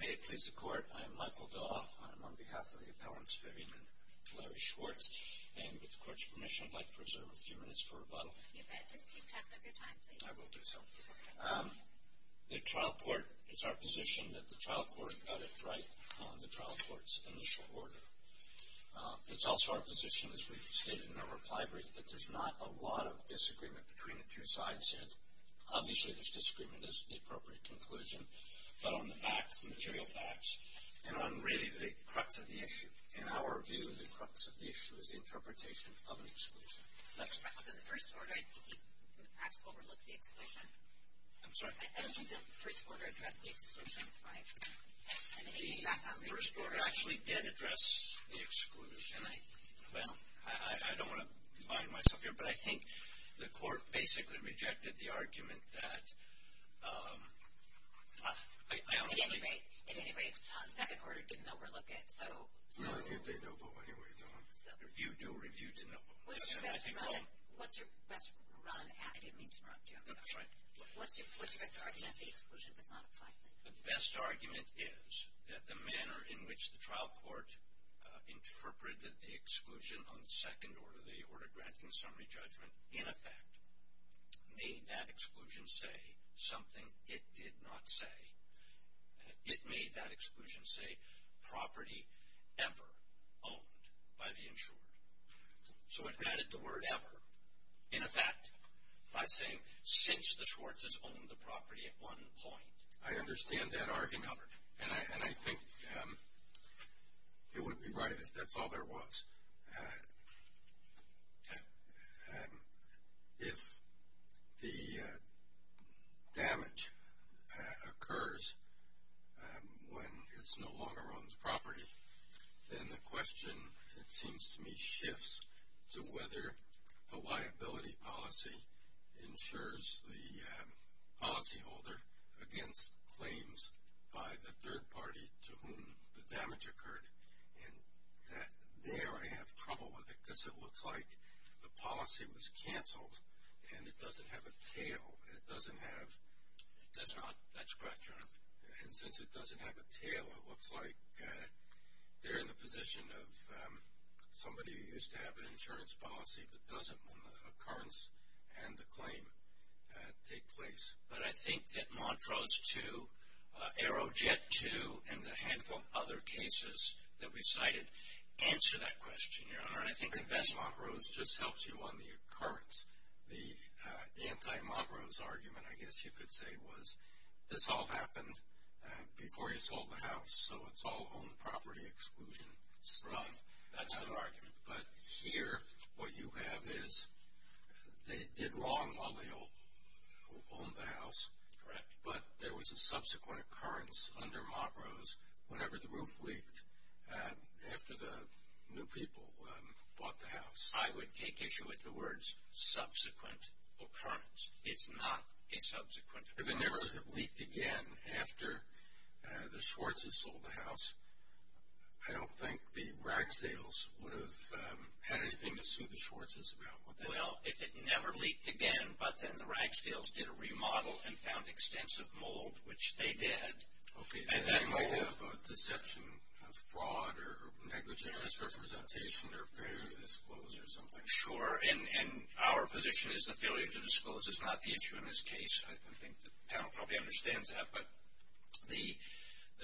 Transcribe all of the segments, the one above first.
May it please the Court, I am Michael Daw. I am on behalf of the appellants Vivian and Larry Schwartz, and with the Court's permission, I'd like to reserve a few minutes for rebuttal. If you'd like, just keep track of your time, please. I will do so. The trial court, it's our position that the trial court got it right on the trial court's initial order. It's also our position, as we've stated in our reply brief, that there's not a lot of disagreement between the two sides yet. Obviously, there's disagreement as to the appropriate conclusion, but on the facts, the material facts, and on really the crux of the issue. In our view, the crux of the issue is the interpretation of an exclusion. So the first order, I think you perhaps overlooked the exclusion. I'm sorry? I don't think the first order addressed the exclusion, right? The first order actually did address the exclusion. Well, I don't want to bind myself here, but I think the Court basically rejected the argument that, I honestly... At any rate, the second order didn't overlook it, so... No, I reviewed the NOFO anyway. You do review the NOFO. What's your best run at... I didn't mean to interrupt you, I'm sorry. That's right. What's your best argument that the exclusion does not apply? The best argument is that the manner in which the trial court interpreted the exclusion on the second order, the order granting summary judgment, in effect, made that exclusion say something it did not say. It made that exclusion say, property ever owned by the insured. So it added the word ever, in effect, by saying, since the Schwartzes owned the property at one point. I understand that argument, and I think it would be right if that's all there was. If the damage occurs when it's no longer owned property, then the question, it seems to me, shifts to whether the liability policy ensures the policyholder against claims by the third party to whom the damage occurred. And there I have trouble with it, because it looks like the policy was canceled, and it doesn't have a tail. It doesn't have... That's correct, Your Honor. And since it doesn't have a tail, it looks like they're in the position of somebody who used to have an insurance policy but doesn't when the occurrence and the claim take place. But I think that Montrose 2, Aerojet 2, and the handful of other cases that we cited answer that question, Your Honor. And I think that Montrose just helps you on the occurrence. The anti-Montrose argument, I guess you could say, was this all happened before you sold the house, so it's all owned property exclusion stuff. Right. That's the argument. But here what you have is they did wrong while they owned the house. Correct. But there was a subsequent occurrence under Montrose whenever the roof leaked after the new people bought the house. I would take issue with the words subsequent occurrence. It's not a subsequent occurrence. If it never leaked again after the Schwartzes sold the house, I don't think the Ragsdales would have had anything to sue the Schwartzes about. Well, if it never leaked again but then the Ragsdales did a remodel and found extensive mold, which they did. Okay. And they might have a deception of fraud or negligent misrepresentation or failure to disclose or something. Sure. And our position is the failure to disclose is not the issue in this case. I think the panel probably understands that. But the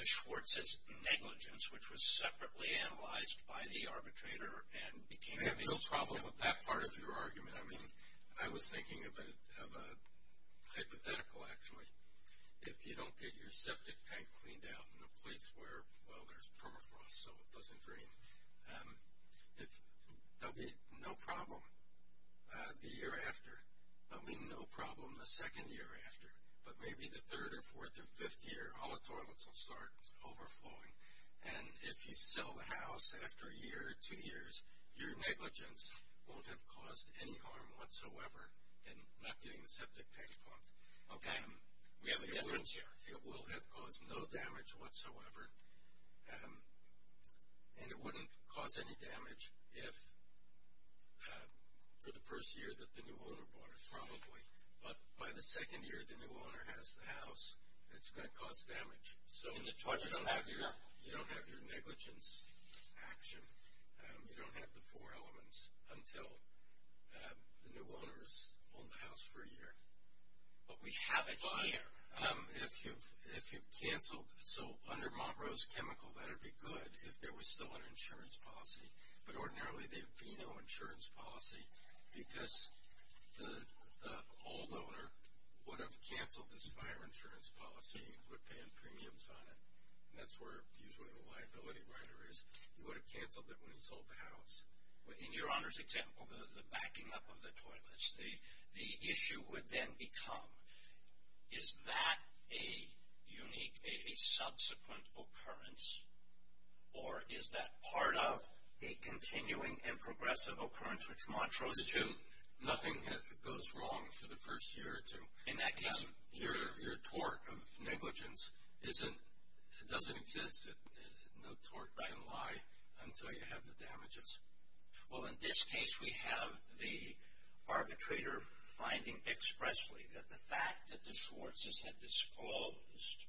Schwartzes negligence, which was separately analyzed by the arbitrator and became the basis of the case. We have no problem with that part of your argument. I mean, I was thinking of a hypothetical, actually. If you don't get your septic tank cleaned out in a place where, well, there's permafrost, so it doesn't drain, there'll be no problem. The year after. I mean, no problem the second year after. But maybe the third or fourth or fifth year, all the toilets will start overflowing. And if you sell the house after a year or two years, your negligence won't have caused any harm whatsoever in not getting the septic tank pumped. Okay. We have a difference here. It will have caused no damage whatsoever. And it wouldn't cause any damage if, for the first year that the new owner bought it, probably. But by the second year the new owner has the house, it's going to cause damage. So you don't have your negligence action. You don't have the four elements until the new owner has owned the house for a year. But we have it here. If you've canceled, so under Monroe's chemical, that would be good if there was still an insurance policy. But ordinarily there would be no insurance policy because the old owner would have canceled this fire insurance policy. He would have been paying premiums on it. And that's where usually the liability rider is. He would have canceled it when he sold the house. In your Honor's example, the backing up of the toilets, the issue would then become, is that a unique, a subsequent occurrence? Or is that part of a continuing and progressive occurrence, which Montreaux is to? Nothing goes wrong for the first year or two. In that case, your tort of negligence doesn't exist. No tort can lie until you have the damages. Well, in this case we have the arbitrator finding expressly that the fact that the Schwartzes had disclosed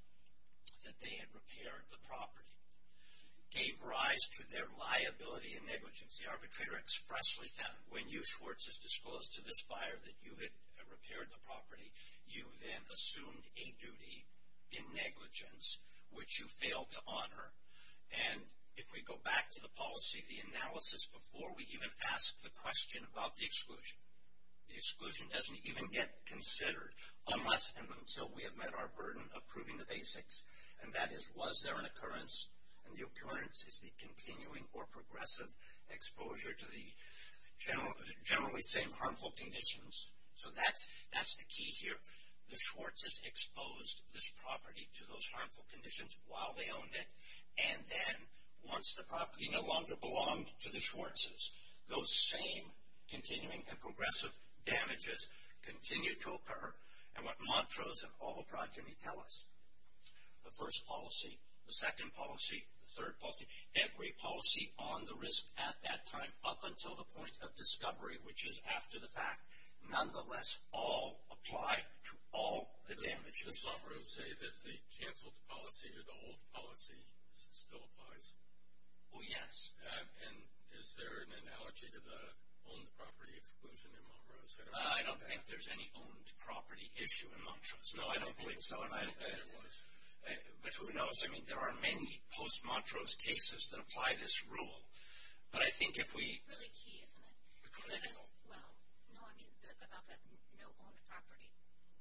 that they had repaired the property gave rise to their liability and negligence. The arbitrator expressly found when you Schwartzes disclosed to this buyer that you had repaired the property, you then assumed a duty in negligence, which you failed to honor. And if we go back to the policy, the analysis before we even ask the question about the exclusion. The exclusion doesn't even get considered unless and until we have met our burden of proving the basics. And that is, was there an occurrence? And the occurrence is the continuing or progressive exposure to the generally same harmful conditions. So that's the key here. The Schwartzes exposed this property to those harmful conditions while they owned it. And then once the property no longer belonged to the Schwartzes, those same continuing and progressive damages continue to occur. And what Montreaux's and all the progeny tell us, the first policy, the second policy, the third policy, every policy on the risk at that time up until the point of discovery, which is after the fact. Nonetheless, all apply to all the damages. The Montreaux's say that the canceled policy or the old policy still applies. Oh, yes. And is there an analogy to the owned property exclusion in Montreaux's? I don't think there's any owned property issue in Montreaux's. No, I don't believe so. I don't think there was. But who knows? I mean, there are many post-Montreaux's cases that apply this rule. But I think if we- That's really key, isn't it? Clinical. Well, no, I mean about the no owned property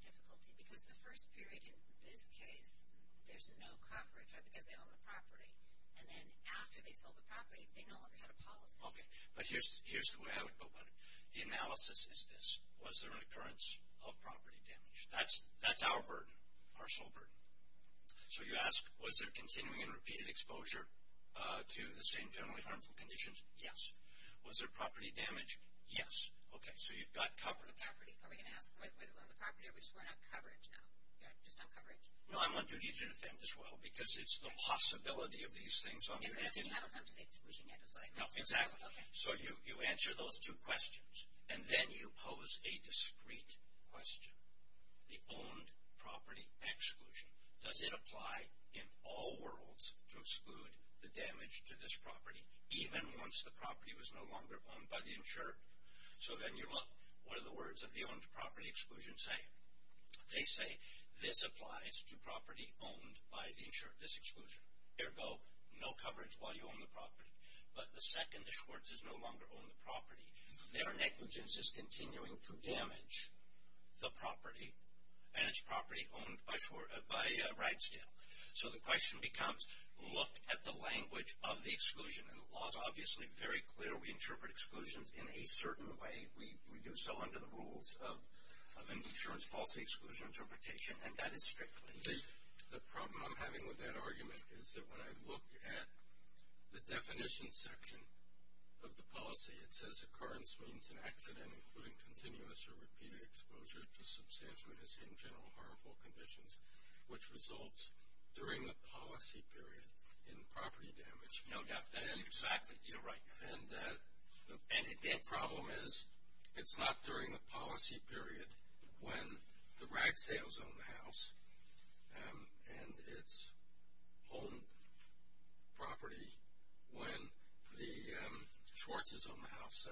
difficulty. Because the first period in this case, there's no coverage, right, because they own the property. And then after they sold the property, they no longer had a policy. Okay. But here's the way I would go about it. The analysis is this. Was there an occurrence of property damage? That's our burden, our sole burden. So, you ask, was there continuing and repeated exposure to the same generally harmful conditions? Yes. Was there property damage? Yes. Okay. So, you've got coverage. The property? Are we going to ask whether they own the property or we're just going on coverage now? You're just on coverage? No, I want you to defend as well because it's the possibility of these things on the- So, you haven't come to the exclusion yet is what I meant. No, exactly. Okay. So, you answer those two questions. And then you pose a discreet question. The owned property exclusion. Does it apply in all worlds to exclude the damage to this property, even once the property was no longer owned by the insured? So, then you look. What are the words of the owned property exclusion saying? They say this applies to property owned by the insured, this exclusion. Ergo, no coverage while you own the property. But the second the Schwartz's no longer own the property, their negligence is continuing to damage the property, and it's property owned by Ragsdale. So, the question becomes, look at the language of the exclusion. And the law is obviously very clear. We interpret exclusions in a certain way. We do so under the rules of insurance policy exclusion interpretation, and that is strict. The problem I'm having with that argument is that when I look at the definition section of the policy, it says occurrence means an accident including continuous or repeated exposure to substantial and, in general, harmful conditions, which results during the policy period in property damage. No, that's exactly right. And the problem is it's not during the policy period when the Ragsdale's own the house and its own property when the Schwartz's own the house.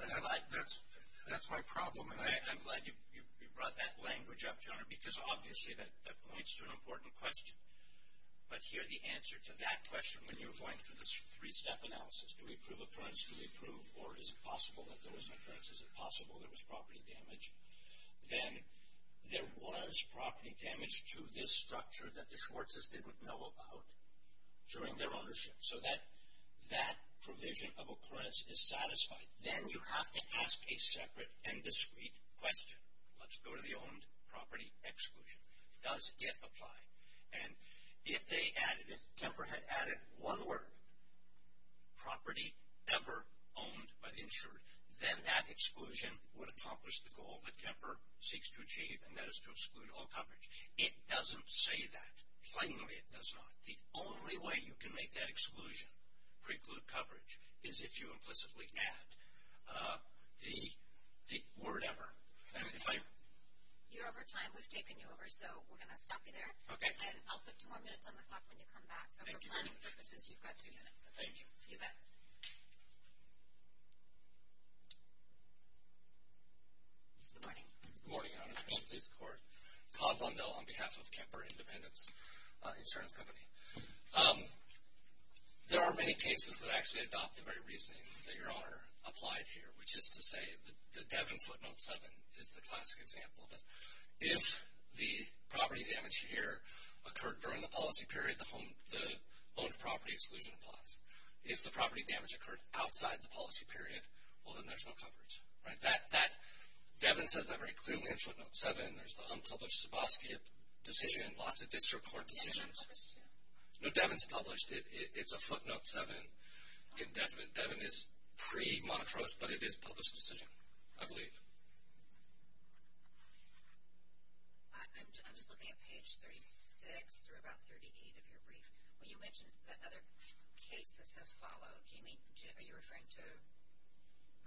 That's my problem. I'm glad you brought that language up, John, because obviously that points to an important question. But here the answer to that question when you're going through this three-step analysis, to reprove occurrence, to reprove or is it possible that there was an occurrence, is it possible there was property damage, then there was property damage to this structure that the Schwartz's didn't know about during their ownership. So, that provision of occurrence is satisfied. Then you have to ask a separate and discrete question. Let's go to the owned property exclusion. Does it apply? If Kemper had added one word, property ever owned by the insured, then that exclusion would accomplish the goal that Kemper seeks to achieve, and that is to exclude all coverage. It doesn't say that. Plainly, it does not. The only way you can make that exclusion preclude coverage is if you implicitly add the word ever. You're over time. We've taken you over, so we're going to stop you there. Okay. And I'll put two more minutes on the clock when you come back. Thank you very much. So, for planning purposes, you've got two minutes. Thank you. You bet. Good morning. Good morning, Your Honor. Please report. Todd Bundell on behalf of Kemper Independence Insurance Company. There are many cases that actually adopt the very reasoning that Your Honor applied here, which is to say that the Devon footnote 7 is the classic example. If the property damage here occurred during the policy period, the owned property exclusion applies. If the property damage occurred outside the policy period, well, then there's no coverage. Devon says that very clearly in footnote 7. There's the unpublished Zaboski decision, lots of district court decisions. No, Devon's published. It's a footnote 7. Devon is pre-monetarized, but it is a published decision, I believe. I'm just looking at page 36 through about 38 of your brief. Well, you mentioned that other cases have followed. Are you referring to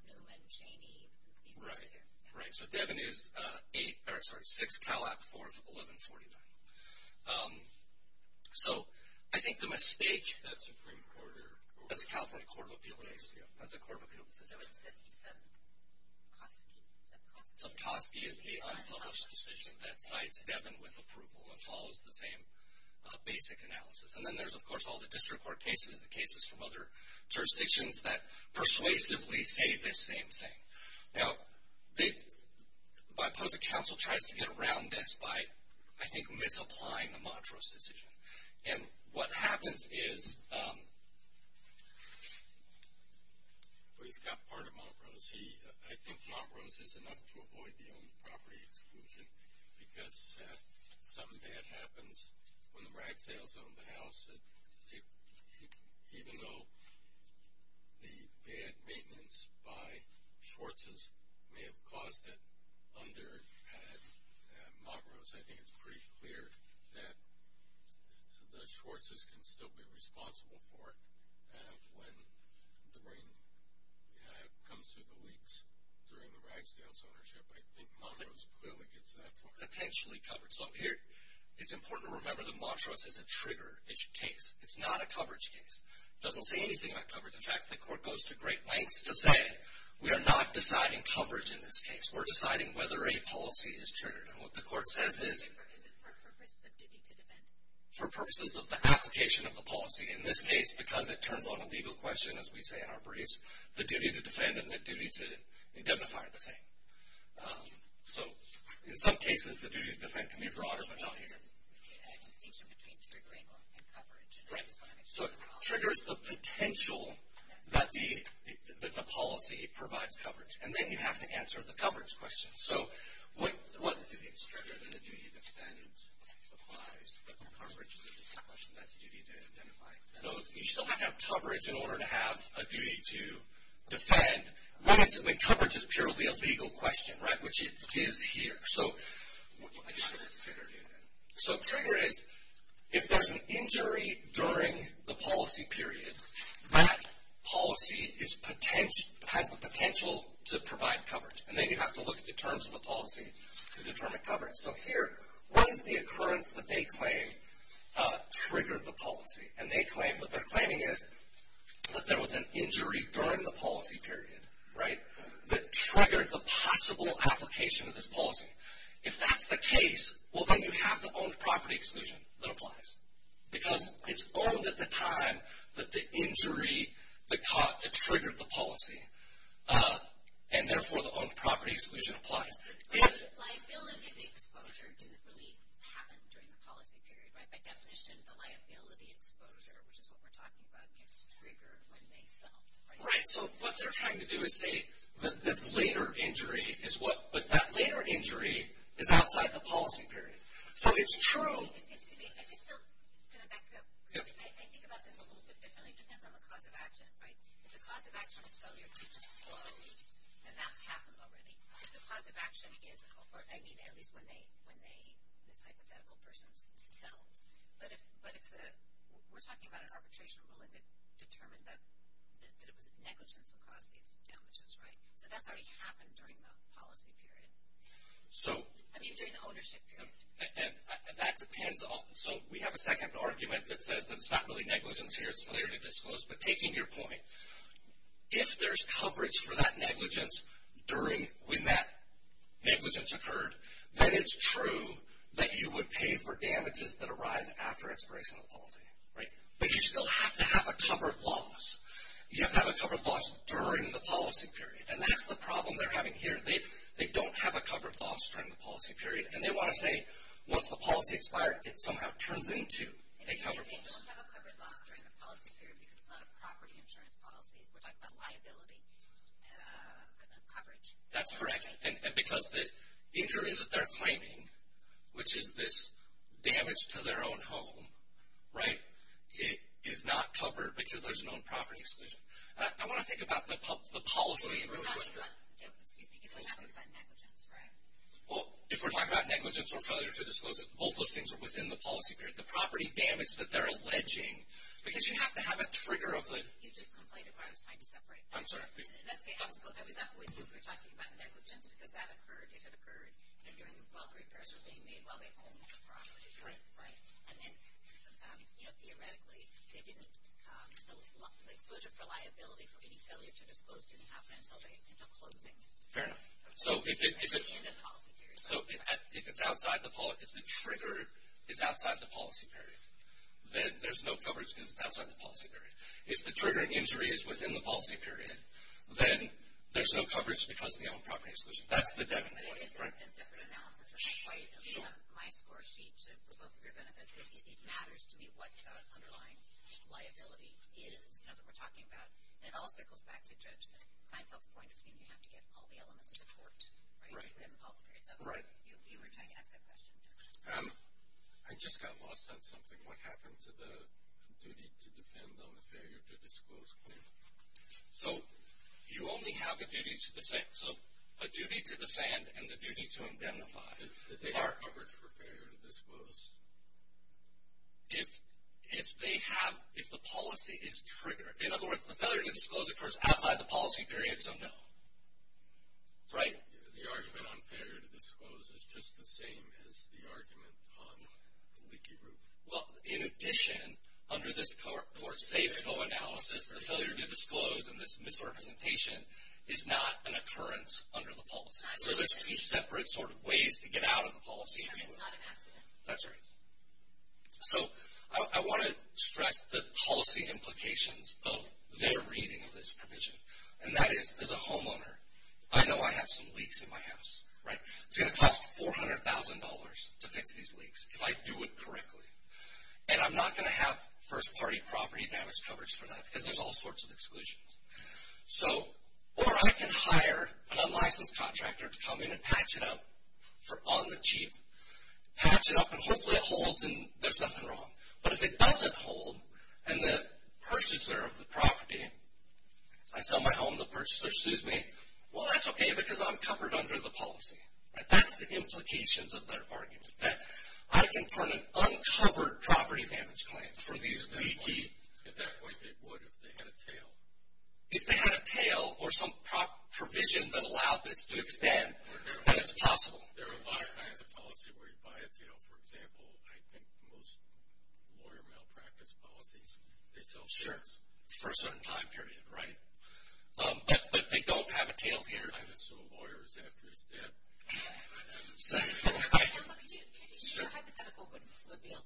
Newman, Chaney, these cases here? Right. So, Devon is 6 Calab, 4th, 1149. So, I think the mistake... That's a Supreme Court order. That's a California Court of Appeals decision. That's a Court of Appeals decision. Zabkowski. Zabkowski is the unpublished decision that cites Devon with approval and follows the same basic analysis. And then there's, of course, all the district court cases, the cases from other jurisdictions that persuasively say this same thing. Now, the Bipartisan Council tries to get around this by, I think, misapplying the Montrose decision. And what happens is... Well, he's got part of Montrose. I think Montrose is enough to avoid the owned property exclusion because something bad happens when the Braggsales own the house, even though the bad maintenance by Schwartzes may have caused it under Montrose. I think it's pretty clear that the Schwartzes can still be responsible for it when the ring comes through the leaks during the Braggsales ownership. I think Montrose clearly gets that far. Attentionally covered. So, here, it's important to remember that Montrose is a trigger. It's a case. It's not a coverage case. It doesn't say anything about coverage. In fact, the court goes to great lengths to say, we are not deciding coverage in this case. We're deciding whether a policy is triggered. And what the court says is... Is it for purposes of duty to defend? For purposes of the application of the policy. In this case, because it turns on a legal question, as we say in our briefs, the duty to defend and the duty to indemnify are the same. So, in some cases, the duty to defend can be broader, but not here. There's a distinction between triggering and coverage. Right. So, it triggers the potential that the policy provides coverage. And then you have to answer the coverage question. So, what? If it's triggered, then the duty to defend applies. But for coverage, that's a duty to indemnify. You still have to have coverage in order to have a duty to defend. When coverage is purely a legal question, right, which it is here. So, trigger is, if there's an injury during the policy period, that policy has the potential to provide coverage. And then you have to look at the terms of the policy to determine coverage. So, here, what is the occurrence that they claim triggered the policy? And what they're claiming is that there was an injury during the policy period, right, that triggered the possible application of this policy. If that's the case, well, then you have the owned property exclusion that applies. Because it's owned at the time that the injury that triggered the policy. And, therefore, the owned property exclusion applies. The liability of the exposure didn't really happen during the policy period, right? By definition, the liability exposure, which is what we're talking about, gets triggered when they sell. Right. So, what they're trying to do is say that this later injury is what, but that later injury is outside the policy period. So, it's true. It seems to be. I just feel, kind of back to it. I think about this a little bit differently. It depends on the cause of action, right? If the cause of action is failure to disclose, then that's happened already. If the cause of action is, or, I mean, at least when this hypothetical person sells. We're talking about an arbitration ruling that determined that it was negligence that caused these damages, right? So, that's already happened during the policy period. I mean, during the ownership period. That depends. So, we have a second argument that says that it's not really negligence here. It's failure to disclose. But, taking your point, if there's coverage for that negligence when that negligence occurred, then it's true that you would pay for damages that arise after expiration of the policy. Right? But, you still have to have a covered loss. You have to have a covered loss during the policy period. And, that's the problem they're having here. They don't have a covered loss during the policy period. And, they want to say, once the policy expired, it somehow turns into a covered loss. They don't have a covered loss during the policy period because it's not a property insurance policy. We're talking about liability coverage. That's correct. And, because the injury that they're claiming, which is this damage to their own home, right, is not covered because there's no property exclusion. I want to think about the policy. Excuse me. You're talking about negligence, right? Well, if we're talking about negligence or failure to disclose, both those things are within the policy period. The property damage that they're alleging, because you have to have a trigger of the... You just conflated what I was trying to separate. I'm sorry. That's okay. I was up with you when you were talking about negligence because that occurred if it occurred during... while repairs were being made while they owned the property. Right. Right. And then, you know, theoretically, they didn't... The exposure for liability for any failure to disclose didn't happen until closing. Fair enough. So, if it's... In the policy period. So, if it's outside the... If the trigger is outside the policy period, then there's no coverage because it's outside the policy period. If the trigger and injury is within the policy period, then there's no coverage because of the owned property exclusion. That's the definite point, right? But it is a separate analysis. Sure. My score sheet to both of your benefits. It matters to me what underlying liability is, you know, that we're talking about. And it all circles back to Judge Kleinfeld's point of being you have to get all the elements of the court. Right. Right. You were trying to ask that question. I just got lost on something. What happened to the duty to defend on the failure to disclose claim? So, you only have the duty to defend. So, a duty to defend and the duty to identify. Did they have coverage for failure to disclose? If they have... If the policy is triggered... In other words, the failure to disclose occurs outside the policy period, so no. Right? The argument on failure to disclose is just the same as the argument on the leaky roof. Well, in addition, under this court safe co-analysis, the failure to disclose and this misrepresentation is not an occurrence under the policy. So, there's two separate sort of ways to get out of the policy. And it's not an accident. That's right. So, I want to stress the policy implications of their reading of this provision. And that is, as a homeowner, I know I have some leaks in my house, right? It's going to cost $400,000 to fix these leaks if I do it correctly. And I'm not going to have first-party property damage coverage for that because there's all sorts of exclusions. So, or I can hire an unlicensed contractor to come in and patch it up on the cheap. Patch it up and hopefully it holds and there's nothing wrong. But if it doesn't hold and the purchaser of the property... That's the implications of their argument. That I can fund an uncovered property damage claim for these leaky... At that point, it would if they had a tail. If they had a tail or some provision that allowed this to expand, then it's possible. There are a lot of kinds of policy where you buy a tail. For example, I think most lawyer malpractice policies, they sell tails. Sure, for a certain time period, right? But they don't have a tail here. I haven't sold lawyers after his death. So... Your hypothetical would certainly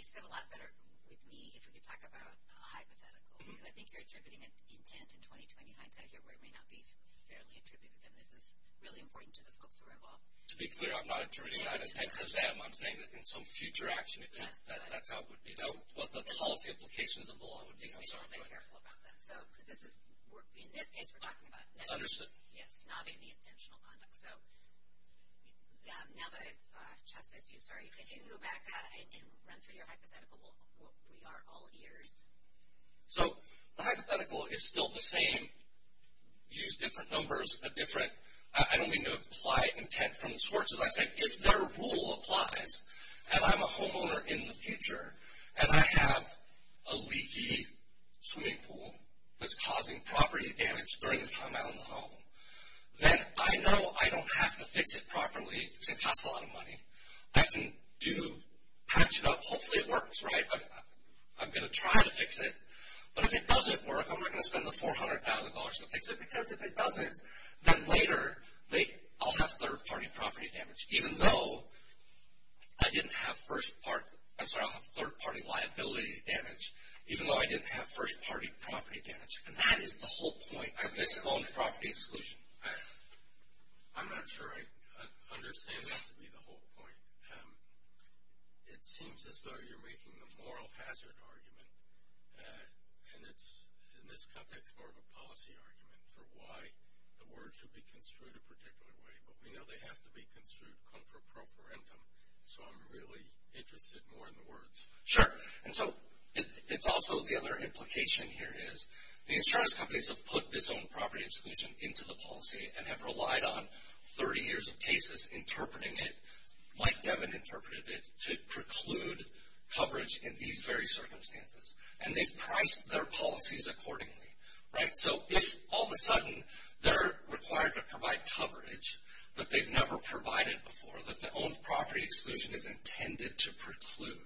sit a lot better with me if we could talk about a hypothetical. Because I think you're attributing an intent in 20-20 hindsight here where it may not be fairly attributable. This is really important to the folks who are involved. To be clear, I'm not attributing that intent to them. I'm saying that in some future action, that's how it would be. That's what the policy implications of the law would be. In this case, we're talking about nodding the intentional conduct. Now that I've chastised you, if you can go back and run through your hypothetical, we are all ears. The hypothetical is still the same. Use different numbers. I don't mean to apply intent from the source. As I say, if their rule applies, and I'm a homeowner in the future, and I have a leaky swimming pool that's causing property damage during the time I own the home, then I know I don't have to fix it properly because it costs a lot of money. I can patch it up. Hopefully it works, right? I'm going to try to fix it. But if it doesn't work, I'm not going to spend the $400,000 to fix it. Because if it doesn't, then later I'll have third-party liability damage, even though I didn't have first-party property damage. And that is the whole point of this loan property exclusion. I'm not sure I understand that to be the whole point. It seems as though you're making the moral hazard argument, and it's, in this context, more of a policy argument for why the words should be construed a particular way. But we know they have to be construed contra pro forendum, so I'm really interested more in the words. Sure. And so it's also the other implication here is the insurance companies have put this own property exclusion into the policy and have relied on 30 years of cases interpreting it, like Devin interpreted it, to preclude coverage in these very circumstances. And they've priced their policies accordingly, right? So if all of a sudden they're required to provide coverage that they've never provided before, that the own property exclusion is intended to preclude,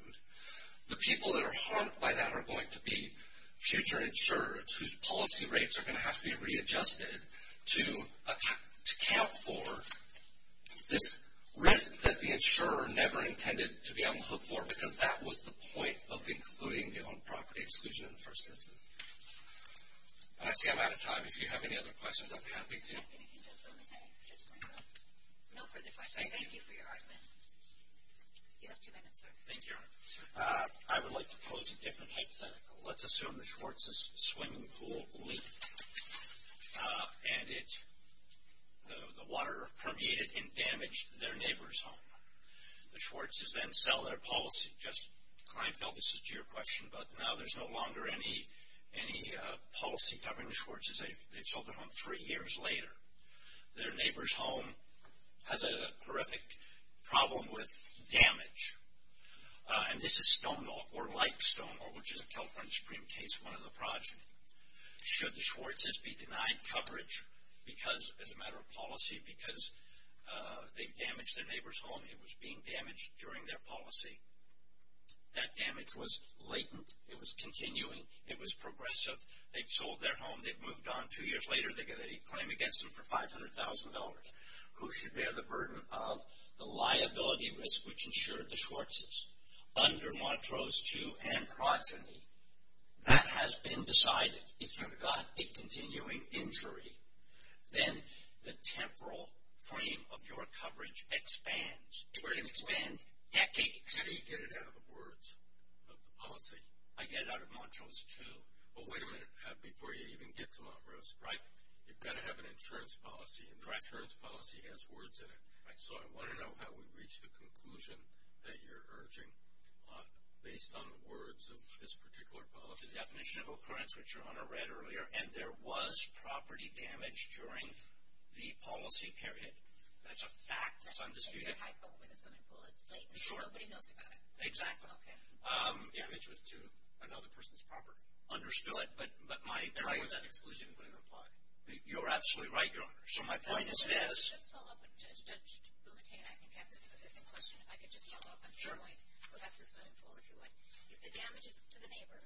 the people that are harmed by that are going to be future insurers whose policy rates are going to have to be readjusted to account for this risk that the insurer never intended to be on the hook for, because that was the point of including the own property exclusion in the first instance. And I see I'm out of time. If you have any other questions, I'm happy to. No further questions. Thank you for your argument. You have two minutes, sir. Thank you. I would like to pose a different hypothetical. Let's assume the Schwartzes' swimming pool leaked, and the water permeated and damaged their neighbor's home. The Schwartzes then sell their policy. Just client-fell, this is to your question, but now there's no longer any policy covering the Schwartzes. They've sold their home three years later. Their neighbor's home has a horrific problem with damage. And this is Stonewall, or like Stonewall, which is a California Supreme case, one of the projects. Should the Schwartzes be denied coverage as a matter of policy because they've damaged their neighbor's home? It was being damaged during their policy. That damage was latent. It was continuing. It was progressive. They've sold their home. They've moved on. Two years later, they get a claim against them for $500,000. Who should bear the burden of the liability risk which ensured the Schwartzes? Under Montrose 2 and Progeny, that has been decided. If you've got a continuing injury, then the temporal frame of your coverage expands. It's going to expand decades. How do you get it out of the words of the policy? I get it out of Montrose 2. Well, wait a minute before you even get to Montrose. Right. You've got to have an insurance policy, and the insurance policy has words in it. Right. So I want to know how we reach the conclusion that you're urging based on the words of this particular policy. The definition of occurrence, which your Honor read earlier, and there was property damage during the policy period. That's a fact. That's a fact. So I'm disputing it. You're hypo with the swimming pool. It's latent. Nobody knows about it. Exactly. Okay. The damage was to another person's property. Understood. I feel it, but my argument with that exclusion wouldn't apply. You're absolutely right, Your Honor. So my point is this. Let me just follow up with Judge Bumate. I think I have the same question. If I could just follow up on your point. Sure. Well, that's the swimming pool, if you would. If the damage is to the neighbor,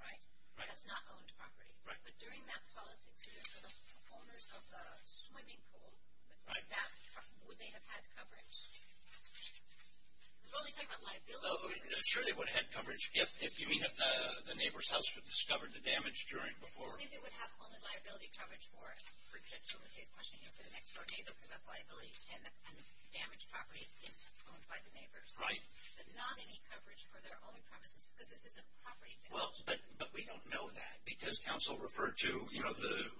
right? Right. That's not owned property. Right. But during that policy period for the owners of the swimming pool. That, would they have had coverage? Because we're only talking about liability. Sure, they would have had coverage. If you mean if the neighbor's house was discovered to damage during before. I think they would have only liability coverage for, for Judge Bumate's question, you know, for the next-door neighbor, because that's liability. And the damaged property is owned by the neighbors. Right. But not any coverage for their own premises, because this isn't a property thing. Well, but we don't know that, because counsel referred to, you know,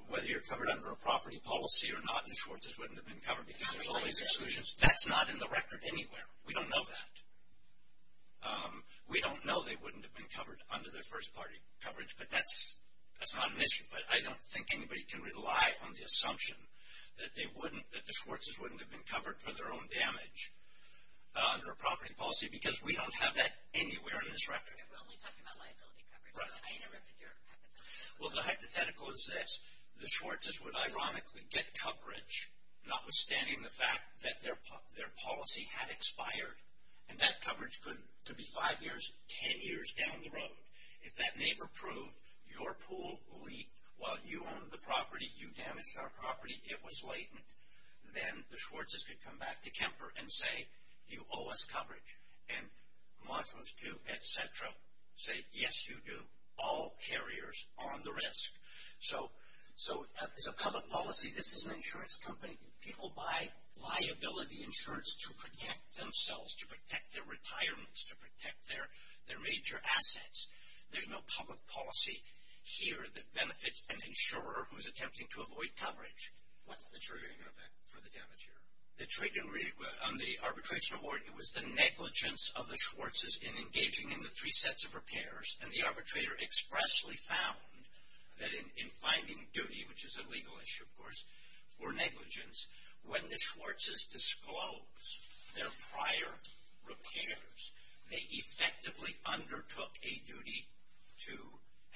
whether you're covered under a property policy or not, and Schwartz's wouldn't have been covered because there's all these exclusions. That's not in the record anywhere. We don't know that. We don't know they wouldn't have been covered under their first-party coverage, but that's, that's not an issue. But I don't think anybody can rely on the assumption that they wouldn't, that the Schwartz's wouldn't have been covered for their own damage under a property policy, because we don't have that anywhere in this record. And we're only talking about liability coverage. Right. I interrupted your hypothetical. Well, the hypothetical is this. The Schwartz's would, ironically, get coverage, notwithstanding the fact that their policy had expired. And that coverage could be five years, ten years down the road. If that neighbor proved your pool leaked while you owned the property, you damaged our property, it was latent, then the Schwartz's could come back to Kemper and say, you owe us coverage. And Marshalls, too, et cetera, say, yes, you do. All carriers are on the risk. So, as a public policy, this is an insurance company. People buy liability insurance to protect themselves, to protect their retirements, to protect their major assets. There's no public policy here that benefits an insurer who is attempting to avoid coverage. What's the triggering effect for the damage here? The triggering on the arbitration award, it was the negligence of the Schwartz's in engaging in the three sets of repairs. And the arbitrator expressly found that in finding duty, which is a legal issue, of course, for negligence, when the Schwartz's disclosed their prior repairs, they effectively undertook a duty to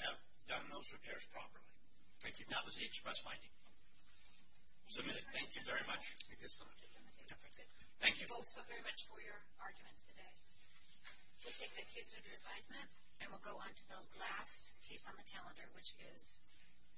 have done those repairs properly. Thank you. That was the express finding. Submit it. Thank you very much. Thank you both so very much for your arguments today. We'll take the case under advisement, and we'll go on to the last case on the calendar, which is.